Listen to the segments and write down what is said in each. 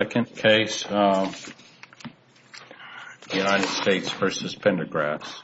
Second case, United States v. Pendergrass.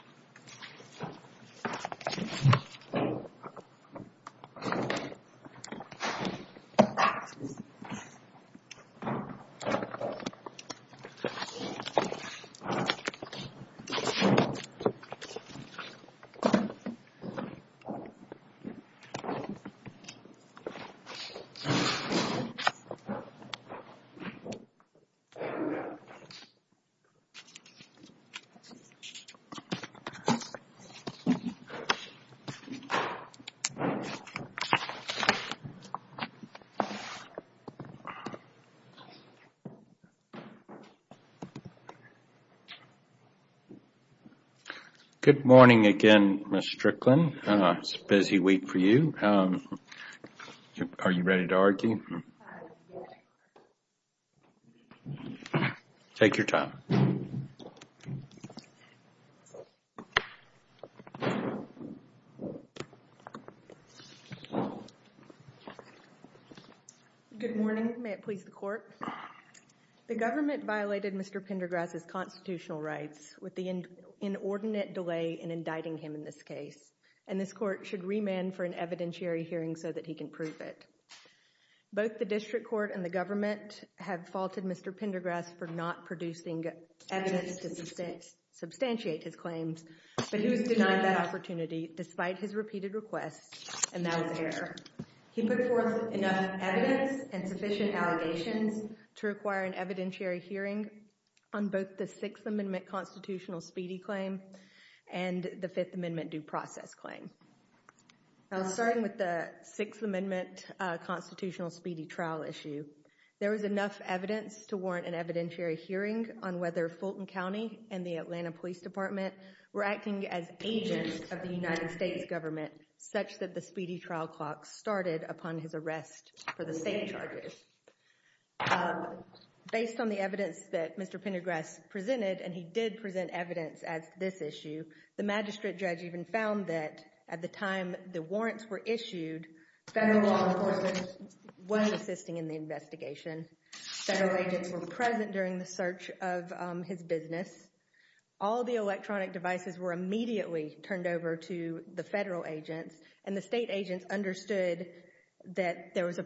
Good morning again, Ms. Strickland. It's a busy week for you. Are you ready to argue? Good morning. May it please the court. The government violated Mr. Pendergrass' constitutional rights with the inordinate delay in indicting him in this case, and this court should remand him for an evidentiary hearing so that he can prove it. Both the district court and the government have faulted Mr. Pendergrass for not producing evidence to substantiate his claims, but he was denied that opportunity despite his repeated requests, and that was error. He put forth enough evidence and sufficient allegations to require an evidentiary hearing on both the Sixth Amendment constitutional speedy claim and the Fifth Amendment due process claim. Starting with the Sixth Amendment constitutional speedy trial issue, there was enough evidence to warrant an evidentiary hearing on whether Fulton County and the Atlanta Police Department were acting as agents of the United States government such that the speedy trial clock started upon his arrest for the same charges. Based on the evidence that Mr. Pendergrass presented, and he did present evidence at this issue, the magistrate judge even found that at the time the warrants were issued, federal law enforcement was assisting in the investigation. Federal agents were present during the search of his business. All the electronic devices were immediately turned over to the federal agents, and the state agents understood that there was a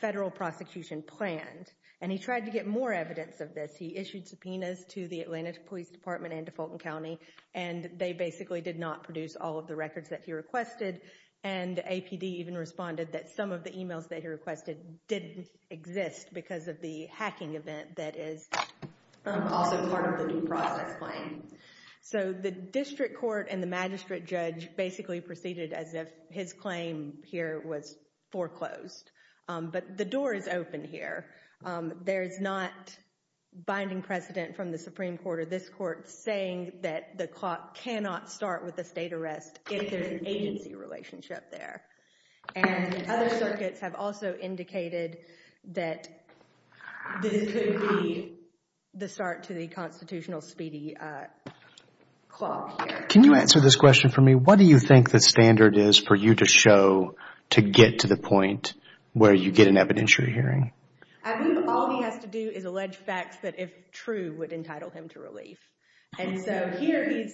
federal prosecution planned, and he tried to get more evidence of this. He issued subpoenas to the Atlanta Police Department and to Fulton County, and they basically did not produce all of the records that he requested, and APD even responded that some of the emails that he requested didn't exist because of the hacking event that is also part of the due process claim. So the district court and the magistrate judge basically proceeded as if his claim here was foreclosed, but the door is open here. There is not binding precedent from the Supreme Court or this court saying that the clock cannot start with a state arrest if there is an agency relationship there. And other circuits have also indicated that this could be the start to the constitutional speedy clock here. Can you answer this question for me? What do you think the standard is for you to show to get to the point where you get an evidentiary hearing? I think all he has to do is allege facts that if true would entitle him to relief. And so here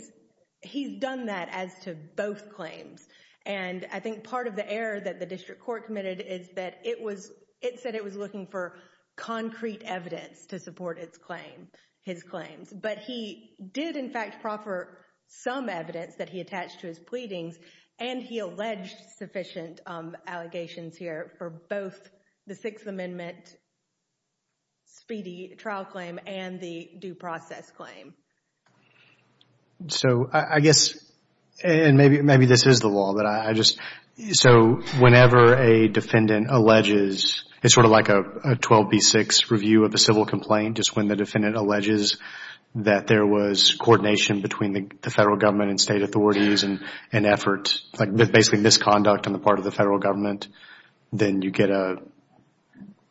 he's done that as to both claims, and I think part of the error that the district court committed is that it said it was looking for concrete evidence to support his claims. But he did, in fact, proffer some evidence that he attached to his pleadings, and he alleged sufficient allegations here for both the Sixth Amendment speedy trial claim and the due process claim. So I guess, and maybe this is the law, but I just, so whenever a defendant alleges, it's sort of like a 12B6 review of a civil complaint, just when the defendant alleges that there was coordination between the federal government and state authorities and effort, like basically misconduct on the part of the federal government, then you get an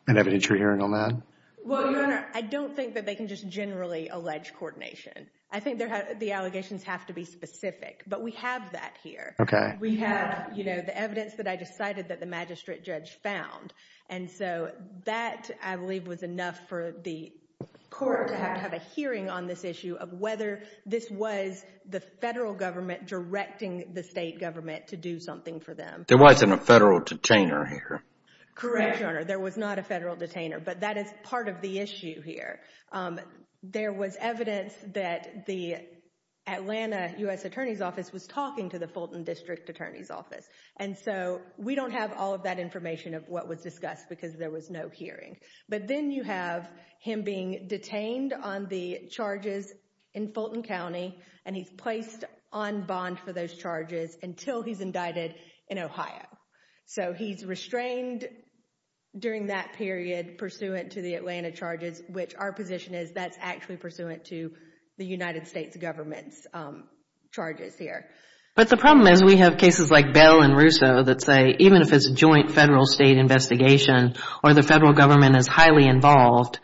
evidentiary hearing on that? Well, Your Honor, I don't think that they can just generally allege coordination. I think the allegations have to be specific, but we have that here. We have, you know, the evidence that I just cited that the magistrate judge found. And so that, I believe, was enough for the court to have a hearing on this issue of whether this was the federal government directing the state government to do something for them. There wasn't a federal detainer here. Correct, Your Honor. There was not a federal detainer, but that is part of the issue here. There was evidence that the Atlanta U.S. Attorney's Office was talking to the Fulton District Attorney's Office. And so we don't have all of that information of what was discussed because there was no hearing. But then you have him being detained on the charges in Fulton County, and he's placed on bond for those charges until he's indicted in Ohio. So he's restrained during that period pursuant to the Atlanta charges, which our position is that's actually pursuant to the United States government's charges here. But the problem is we have cases like Bell and Russo that say even if it's a joint federal state investigation or the federal government is highly involved,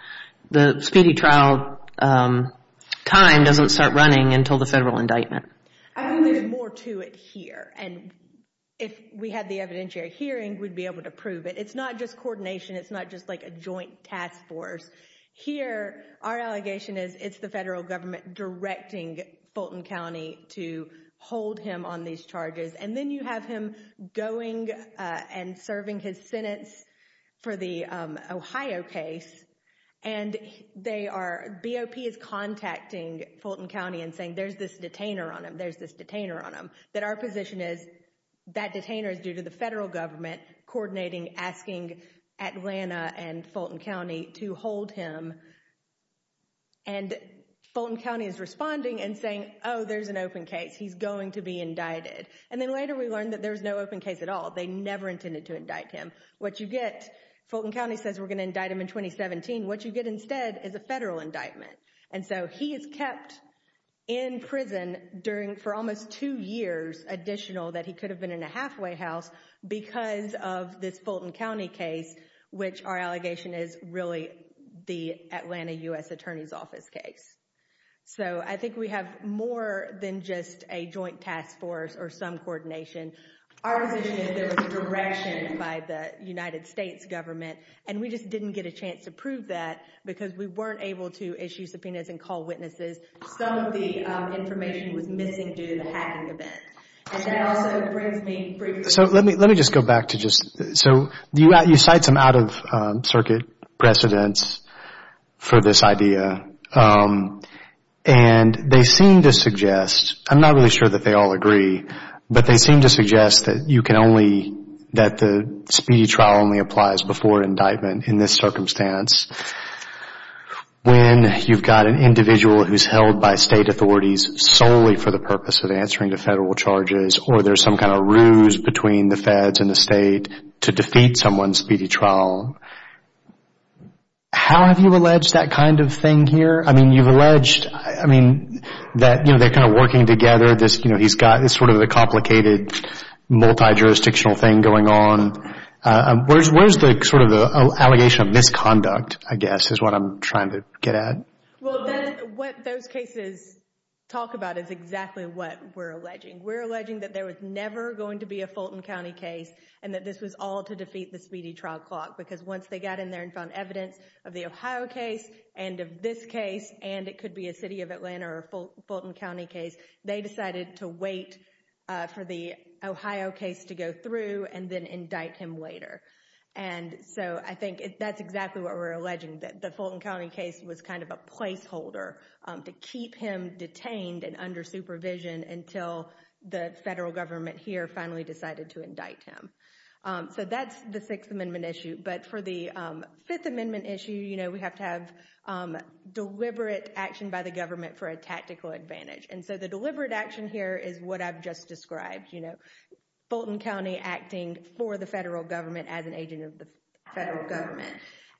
the speedy trial time doesn't start running until the federal indictment. I think there's more to it here. And if we had the evidentiary hearing, we'd be able to prove it. It's not just coordination. It's not just like a joint task force. Here, our allegation is it's the federal government directing Fulton County to hold him on these charges. And then you have him going and serving his sentence for the Ohio case. And they are, BOP is contacting Fulton County and saying, there's this detainer on him. There's this detainer on him. That our position is that detainer is due to the federal government coordinating asking Atlanta and Fulton County to hold him. And Fulton County is responding and saying, oh, there's an open case. He's going to be indicted. And then later we learned that there was no open case at all. They never intended to indict him. What you get, Fulton County says we're going to indict him in 2017. What you get instead is a federal indictment. And so he is kept in prison during, for almost two years additional that he could have been in a halfway house because of this Fulton County case, which our allegation is really the Atlanta U.S. Attorney's Office case. So I think we have more than just a joint task force or some coordination. Our position is there was a direction by the United States government and we just didn't get a chance to prove that because we weren't able to issue subpoenas and call witnesses. Some of the information was missing due to the hacking event. And that also brings me briefly... So let me just go back to just... So you cite some out of circuit precedents for this idea. And they seem to suggest, I'm not really sure that they all agree, but they seem to suggest that you can only, that the speedy trial only applies before indictment in this circumstance when you've got an individual who's held by state authorities solely for the purpose of answering to federal charges or there's some kind of ruse between the feds and the state to defeat someone's speedy trial. How have you alleged that kind of thing here? I mean, you've alleged, I mean, that, you know, they're kind of working together. This, you know, he's got this sort of a complicated multi-jurisdictional thing going on. Where's the sort of the allegation of misconduct, I guess, is what I'm trying to get at. Well, what those cases talk about is exactly what we're alleging. We're alleging that there was never going to be a Fulton County case and that this was all to defeat the speedy trial clock. Because once they got in there and found evidence of the Ohio case and of this case, and it could be a city of Atlanta or Fulton County case, they decided to wait for the Ohio case to go through and then indict him later. And so I think that's exactly what we're alleging, that the Fulton County case was kind of a placeholder to keep him detained and under supervision until the federal government here finally decided to indict him. So that's the Sixth Amendment issue. But for the Fifth Amendment issue, you know, we have to have deliberate action by the government for a tactical advantage. And so the deliberate action here is what I've just described, you know, Fulton County acting for the federal government.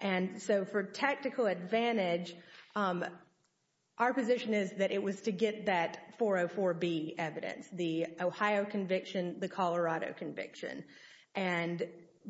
And so for tactical advantage, our position is that it was to get that 404B evidence, the Ohio conviction, the Colorado conviction. And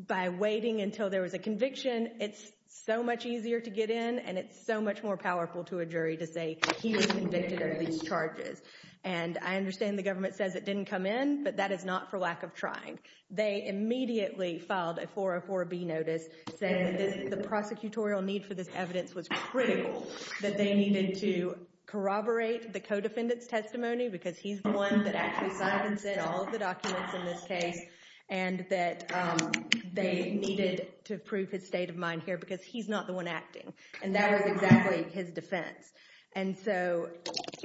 by waiting until there was a conviction, it's so much easier to get in and it's so much more powerful to a jury to say he was convicted of these charges. And I understand the government says it didn't come in, but that is not for lack of trying. They immediately filed a 404B notice saying that the prosecutorial need for this evidence was critical, that they needed to corroborate the co-defendant's testimony because he's the one that actually signs it, all of the documents in this case, and that they needed to prove his state of mind here because he's not the one acting. And that was exactly his defense. And so...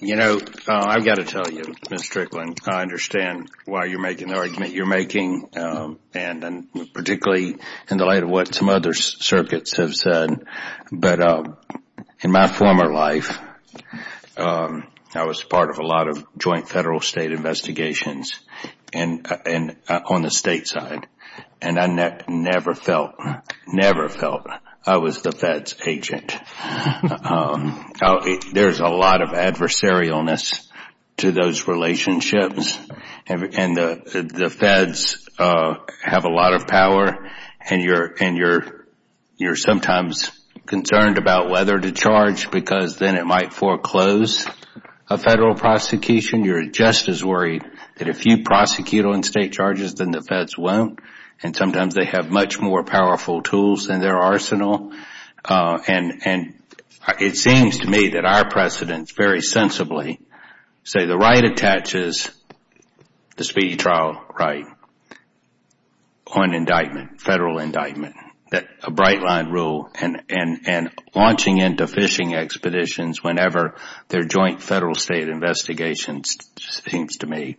You know, I've got to tell you, Ms. Strickland, I understand why you're making the argument you're making, and particularly in the light of what some other circuits have said. But in my former life, I was part of a lot of joint federal state investigations on the state side, and I never felt, never felt I was the Fed's agent. There's a lot of adversarialness to those relationships, and the Feds have a lot of power, and you're sometimes concerned about whether to charge because then it might foreclose a federal prosecution. You're just as worried that if you prosecute on state charges, then the Feds won't, and sometimes they have much more powerful tools in their arsenal. And it seems to me that our precedents very sensibly say the right attaches the speedy trial right on indictment, federal indictment, a bright line rule, and launching into phishing expeditions whenever their joint federal state investigations seems to me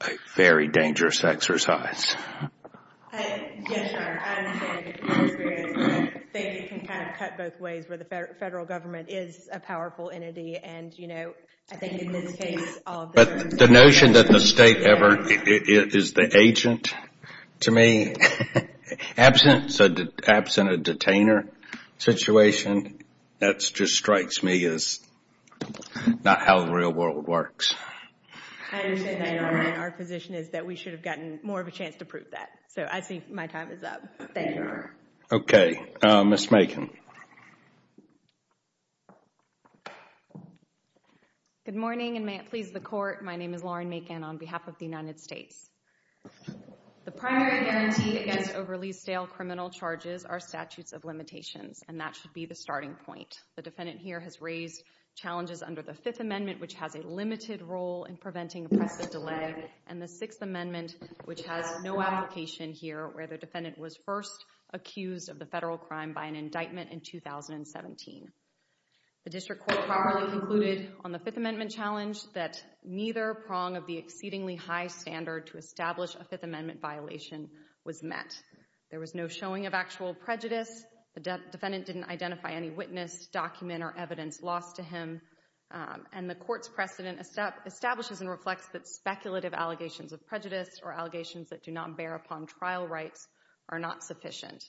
a very dangerous exercise. Yes, sir. I understand your experience, but I think you can kind of cut both ways, where the federal government is a powerful entity, and you know, I think in this case, all of the... But the notion that the state ever is the agent, to me, absent a detainer situation, that just strikes me as not how the real world works. I understand that, Your Honor. Our position is that we should have gotten more of a chance to prove that. So I think my time is up. Thank you, Your Honor. Okay. Ms. Makin. Good morning, and may it please the Court. My name is Lauren Makin on behalf of the United States. The primary guarantee against overly stale criminal charges are statutes of limitations, and that should be the starting point. The defendant here has raised challenges under the Fifth Amendment, which has a limited role in preventing oppressive delay, and the Sixth Amendment, which has no application here, where the defendant was first accused of the federal crime by an indictment in 2017. The District Court powerfully concluded on the Fifth Amendment challenge that neither prong of the exceedingly high standard to establish a Fifth Amendment violation was met. There was no showing of actual prejudice. The defendant didn't identify any witness, document, or evidence lost to him. And the Court's precedent establishes and reflects that speculative allegations of prejudice or allegations that do not bear upon trial rights are not sufficient.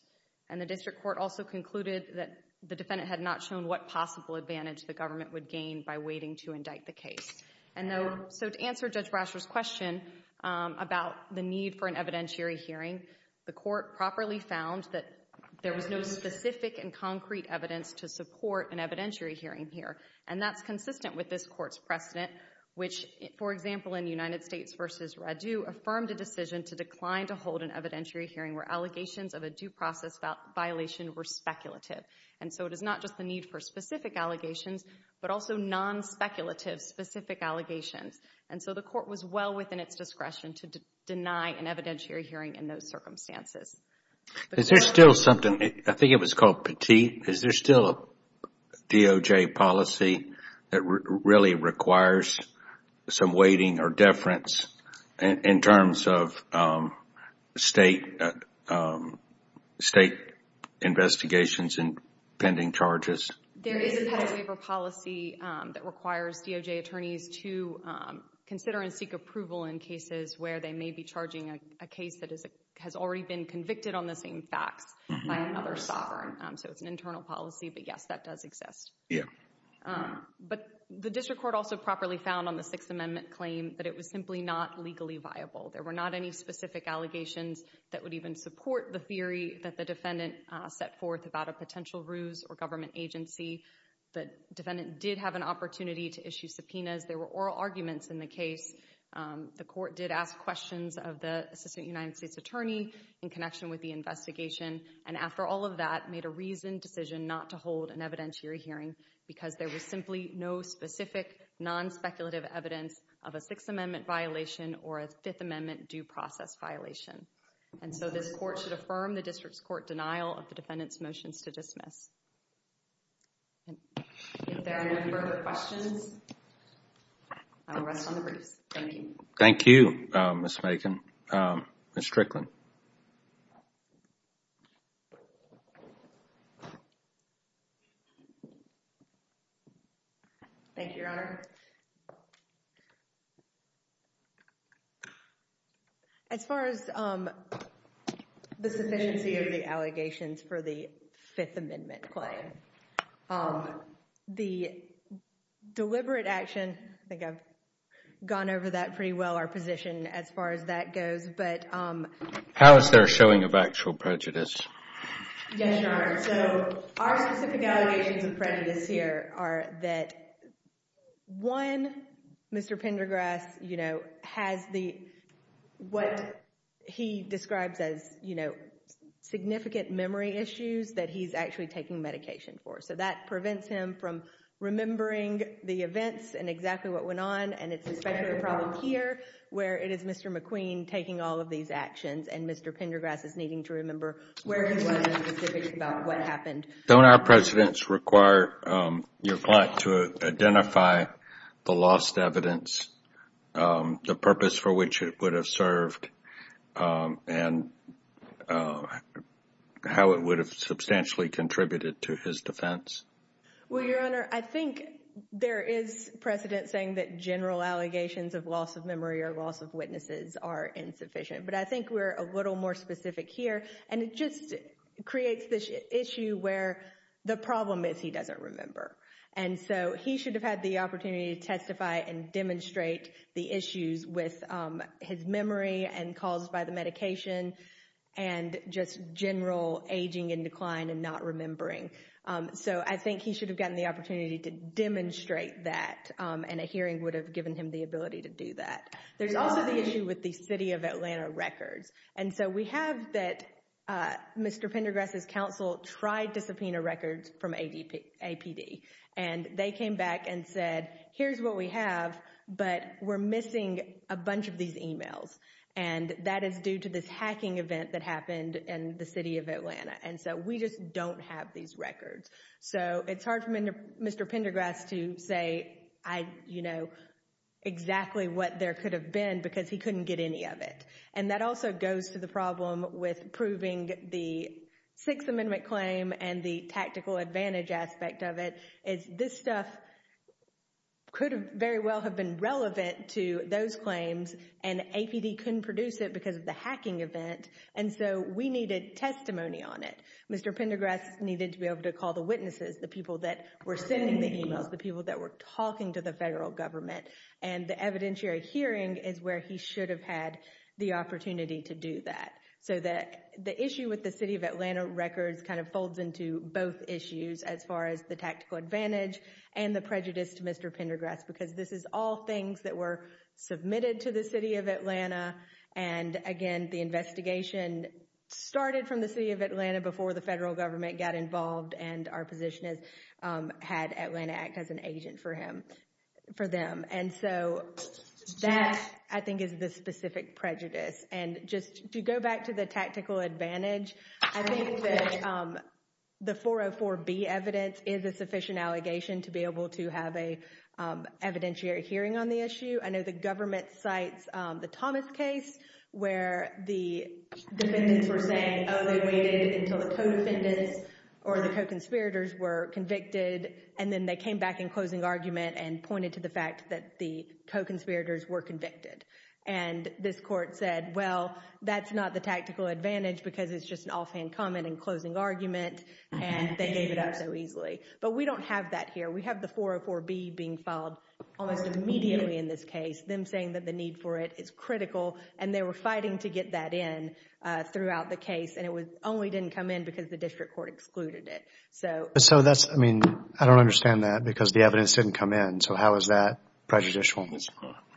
And the District Court also concluded that the defendant had not shown what possible advantage the government would gain by waiting to indict the case. So to answer Judge Brasher's question about the need for an evidentiary hearing, the Court properly found that there was no specific and concrete evidence to support an evidentiary hearing here, and that's consistent with this Court's precedent, which, for example, in United States v. Radu, affirmed a decision to decline to hold an evidentiary hearing where allegations of a due process violation were speculative. And so it is not just the need for specific allegations, but also non-speculative specific allegations. And so the Court was well within its discretion to deny an evidentiary hearing in those circumstances. Is there still something, I think it was called petite, is there still a DOJ policy that really requires some weighting or deference in terms of state investigations and pending charges? There is a petty waiver policy that requires DOJ attorneys to consider and seek approval in cases where they may be charging a case that has already been convicted on the same facts by another sovereign. So it's an internal policy, but yes, that does exist. But the District Court also properly found on the Sixth Amendment claim that it was simply not legally viable. There were not any specific allegations that would even support the theory that the defendant set forth about a potential ruse or government agency. The defendant did have an opportunity to issue subpoenas. There were oral arguments in the case. The Court did ask questions of the Assistant United States Attorney in connection with the investigation, and after all of that, made a reasoned decision not to hold an evidentiary hearing because there was simply no specific non-speculative evidence of a Sixth Amendment violation or a Fifth Amendment due process violation. And so this Court should affirm the District Court's denial of the defendant's motions to dismiss. If there are no further questions, I will rest on the briefs. Thank you. Thank you, Ms. Macon. Ms. Strickland. Thank you, Your Honor. As far as the sufficiency of the allegations for the Fifth Amendment claim, the deliberate action, I think I've gone over that pretty well, our position as far as that goes, but How is there a showing of actual prejudice? Yes, Your Honor. So, our specific allegations of prejudice here are that, one, Mr. Pendergrass, you know, has the, what he describes as, you know, significant memory issues that he's actually taking medication for. So that prevents him from remembering the events and exactly what went on, and it's especially a problem here, where it is Mr. McQueen taking all of these actions, and Mr. Pendergrass is needing to remember where he was and specifically about what happened. Don't our precedents require your client to identify the lost evidence, the purpose for which it would have served, and how it would have substantially contributed to his defense? Well, Your Honor, I think there is precedent saying that general allegations of loss of memory or loss of witnesses are insufficient, but I think we're a little more specific here, and it just creates this issue where the problem is he doesn't remember. And so, he should have had the opportunity to testify and demonstrate the issues with his memory and calls by the medication and just general aging and decline and not remembering. So, I think he should have gotten the opportunity to demonstrate that, and a hearing would have given him the ability to do that. There's also the issue with the City of Atlanta records. And so, we have that Mr. Pendergrass' counsel tried to subpoena records from APD, and they came back and said, here's what we have, but we're missing a bunch of these emails, and that is due to this hacking event that happened in the City of Atlanta. And so, we just don't have these records. So, it's hard for Mr. Pendergrass to say, you know, exactly what there could have been because he couldn't get any of it. And that also goes to the problem with proving the Sixth Amendment claim and the tactical advantage aspect of it is this stuff could very well have been relevant to those claims, and APD couldn't produce it because of the hacking event. And so, we needed testimony on it. Mr. Pendergrass needed to be able to call the witnesses, the people that were sending the emails, the people that were talking to the federal government. And the evidentiary hearing is where he should have had the opportunity to do that. So, the issue with the City of Atlanta records kind of folds into both issues as far as the tactical advantage and the prejudice to Mr. Pendergrass because this is all things that were submitted to the City of Atlanta. And again, the investigation started from the City of Atlanta before the federal government got involved and our position is had Atlanta Act as an agent for him, for them. And so, that I think is the specific prejudice. And just to go back to the tactical advantage, I think that the 404B evidence is a sufficient allegation to be able to have an evidentiary hearing on the issue. I know the government cites the Thomas case where the defendants were saying, oh, they waited until the co-defendants or the co-conspirators were convicted and then they came back in closing argument and pointed to the fact that the co-conspirators were convicted. And this court said, well, that's not the tactical advantage because it's just an offhand comment in closing argument and they gave it up so easily. But we don't have that here. We have the 404B being filed almost immediately in this case. Them saying that the need for it is critical and they were fighting to get that in throughout the case and it only didn't come in because the district court excluded it. So that's, I mean, I don't understand that because the evidence didn't come in. So how is that prejudicial?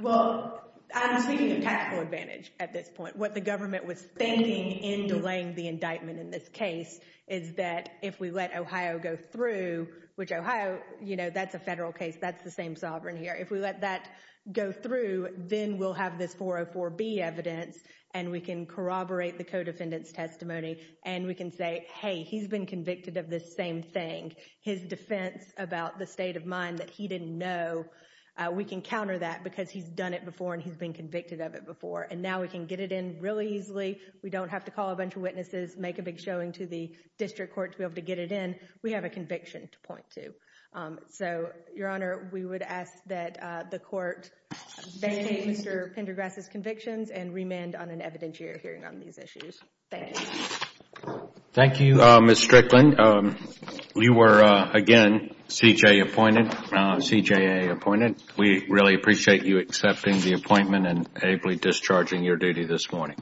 Well, I'm speaking of tactical advantage at this point. What the government was thinking in delaying the indictment in this case is that if we let Ohio go through, which Ohio, you know, that's a federal case. That's the same sovereign here. If we let that go through, then we'll have this 404B evidence and we can corroborate the co-defendant's testimony and we can say, hey, he's been convicted of this same thing. His defense about the state of mind that he didn't know, we can counter that because he's done it before and he's been convicted of it before. And now we can get it in really easily. We don't have to call a bunch of witnesses, make a big showing to the district court to be able to get it in. We have a conviction to point to. So, Your Honor, we would ask that the court vacate Mr. Pendergrass' convictions and remand on an evidentiary hearing on these issues. Thank you. Thank you, Ms. Strickland. You were, again, CJA appointed. We really appreciate you accepting the appointment and ably discharging your duty this morning.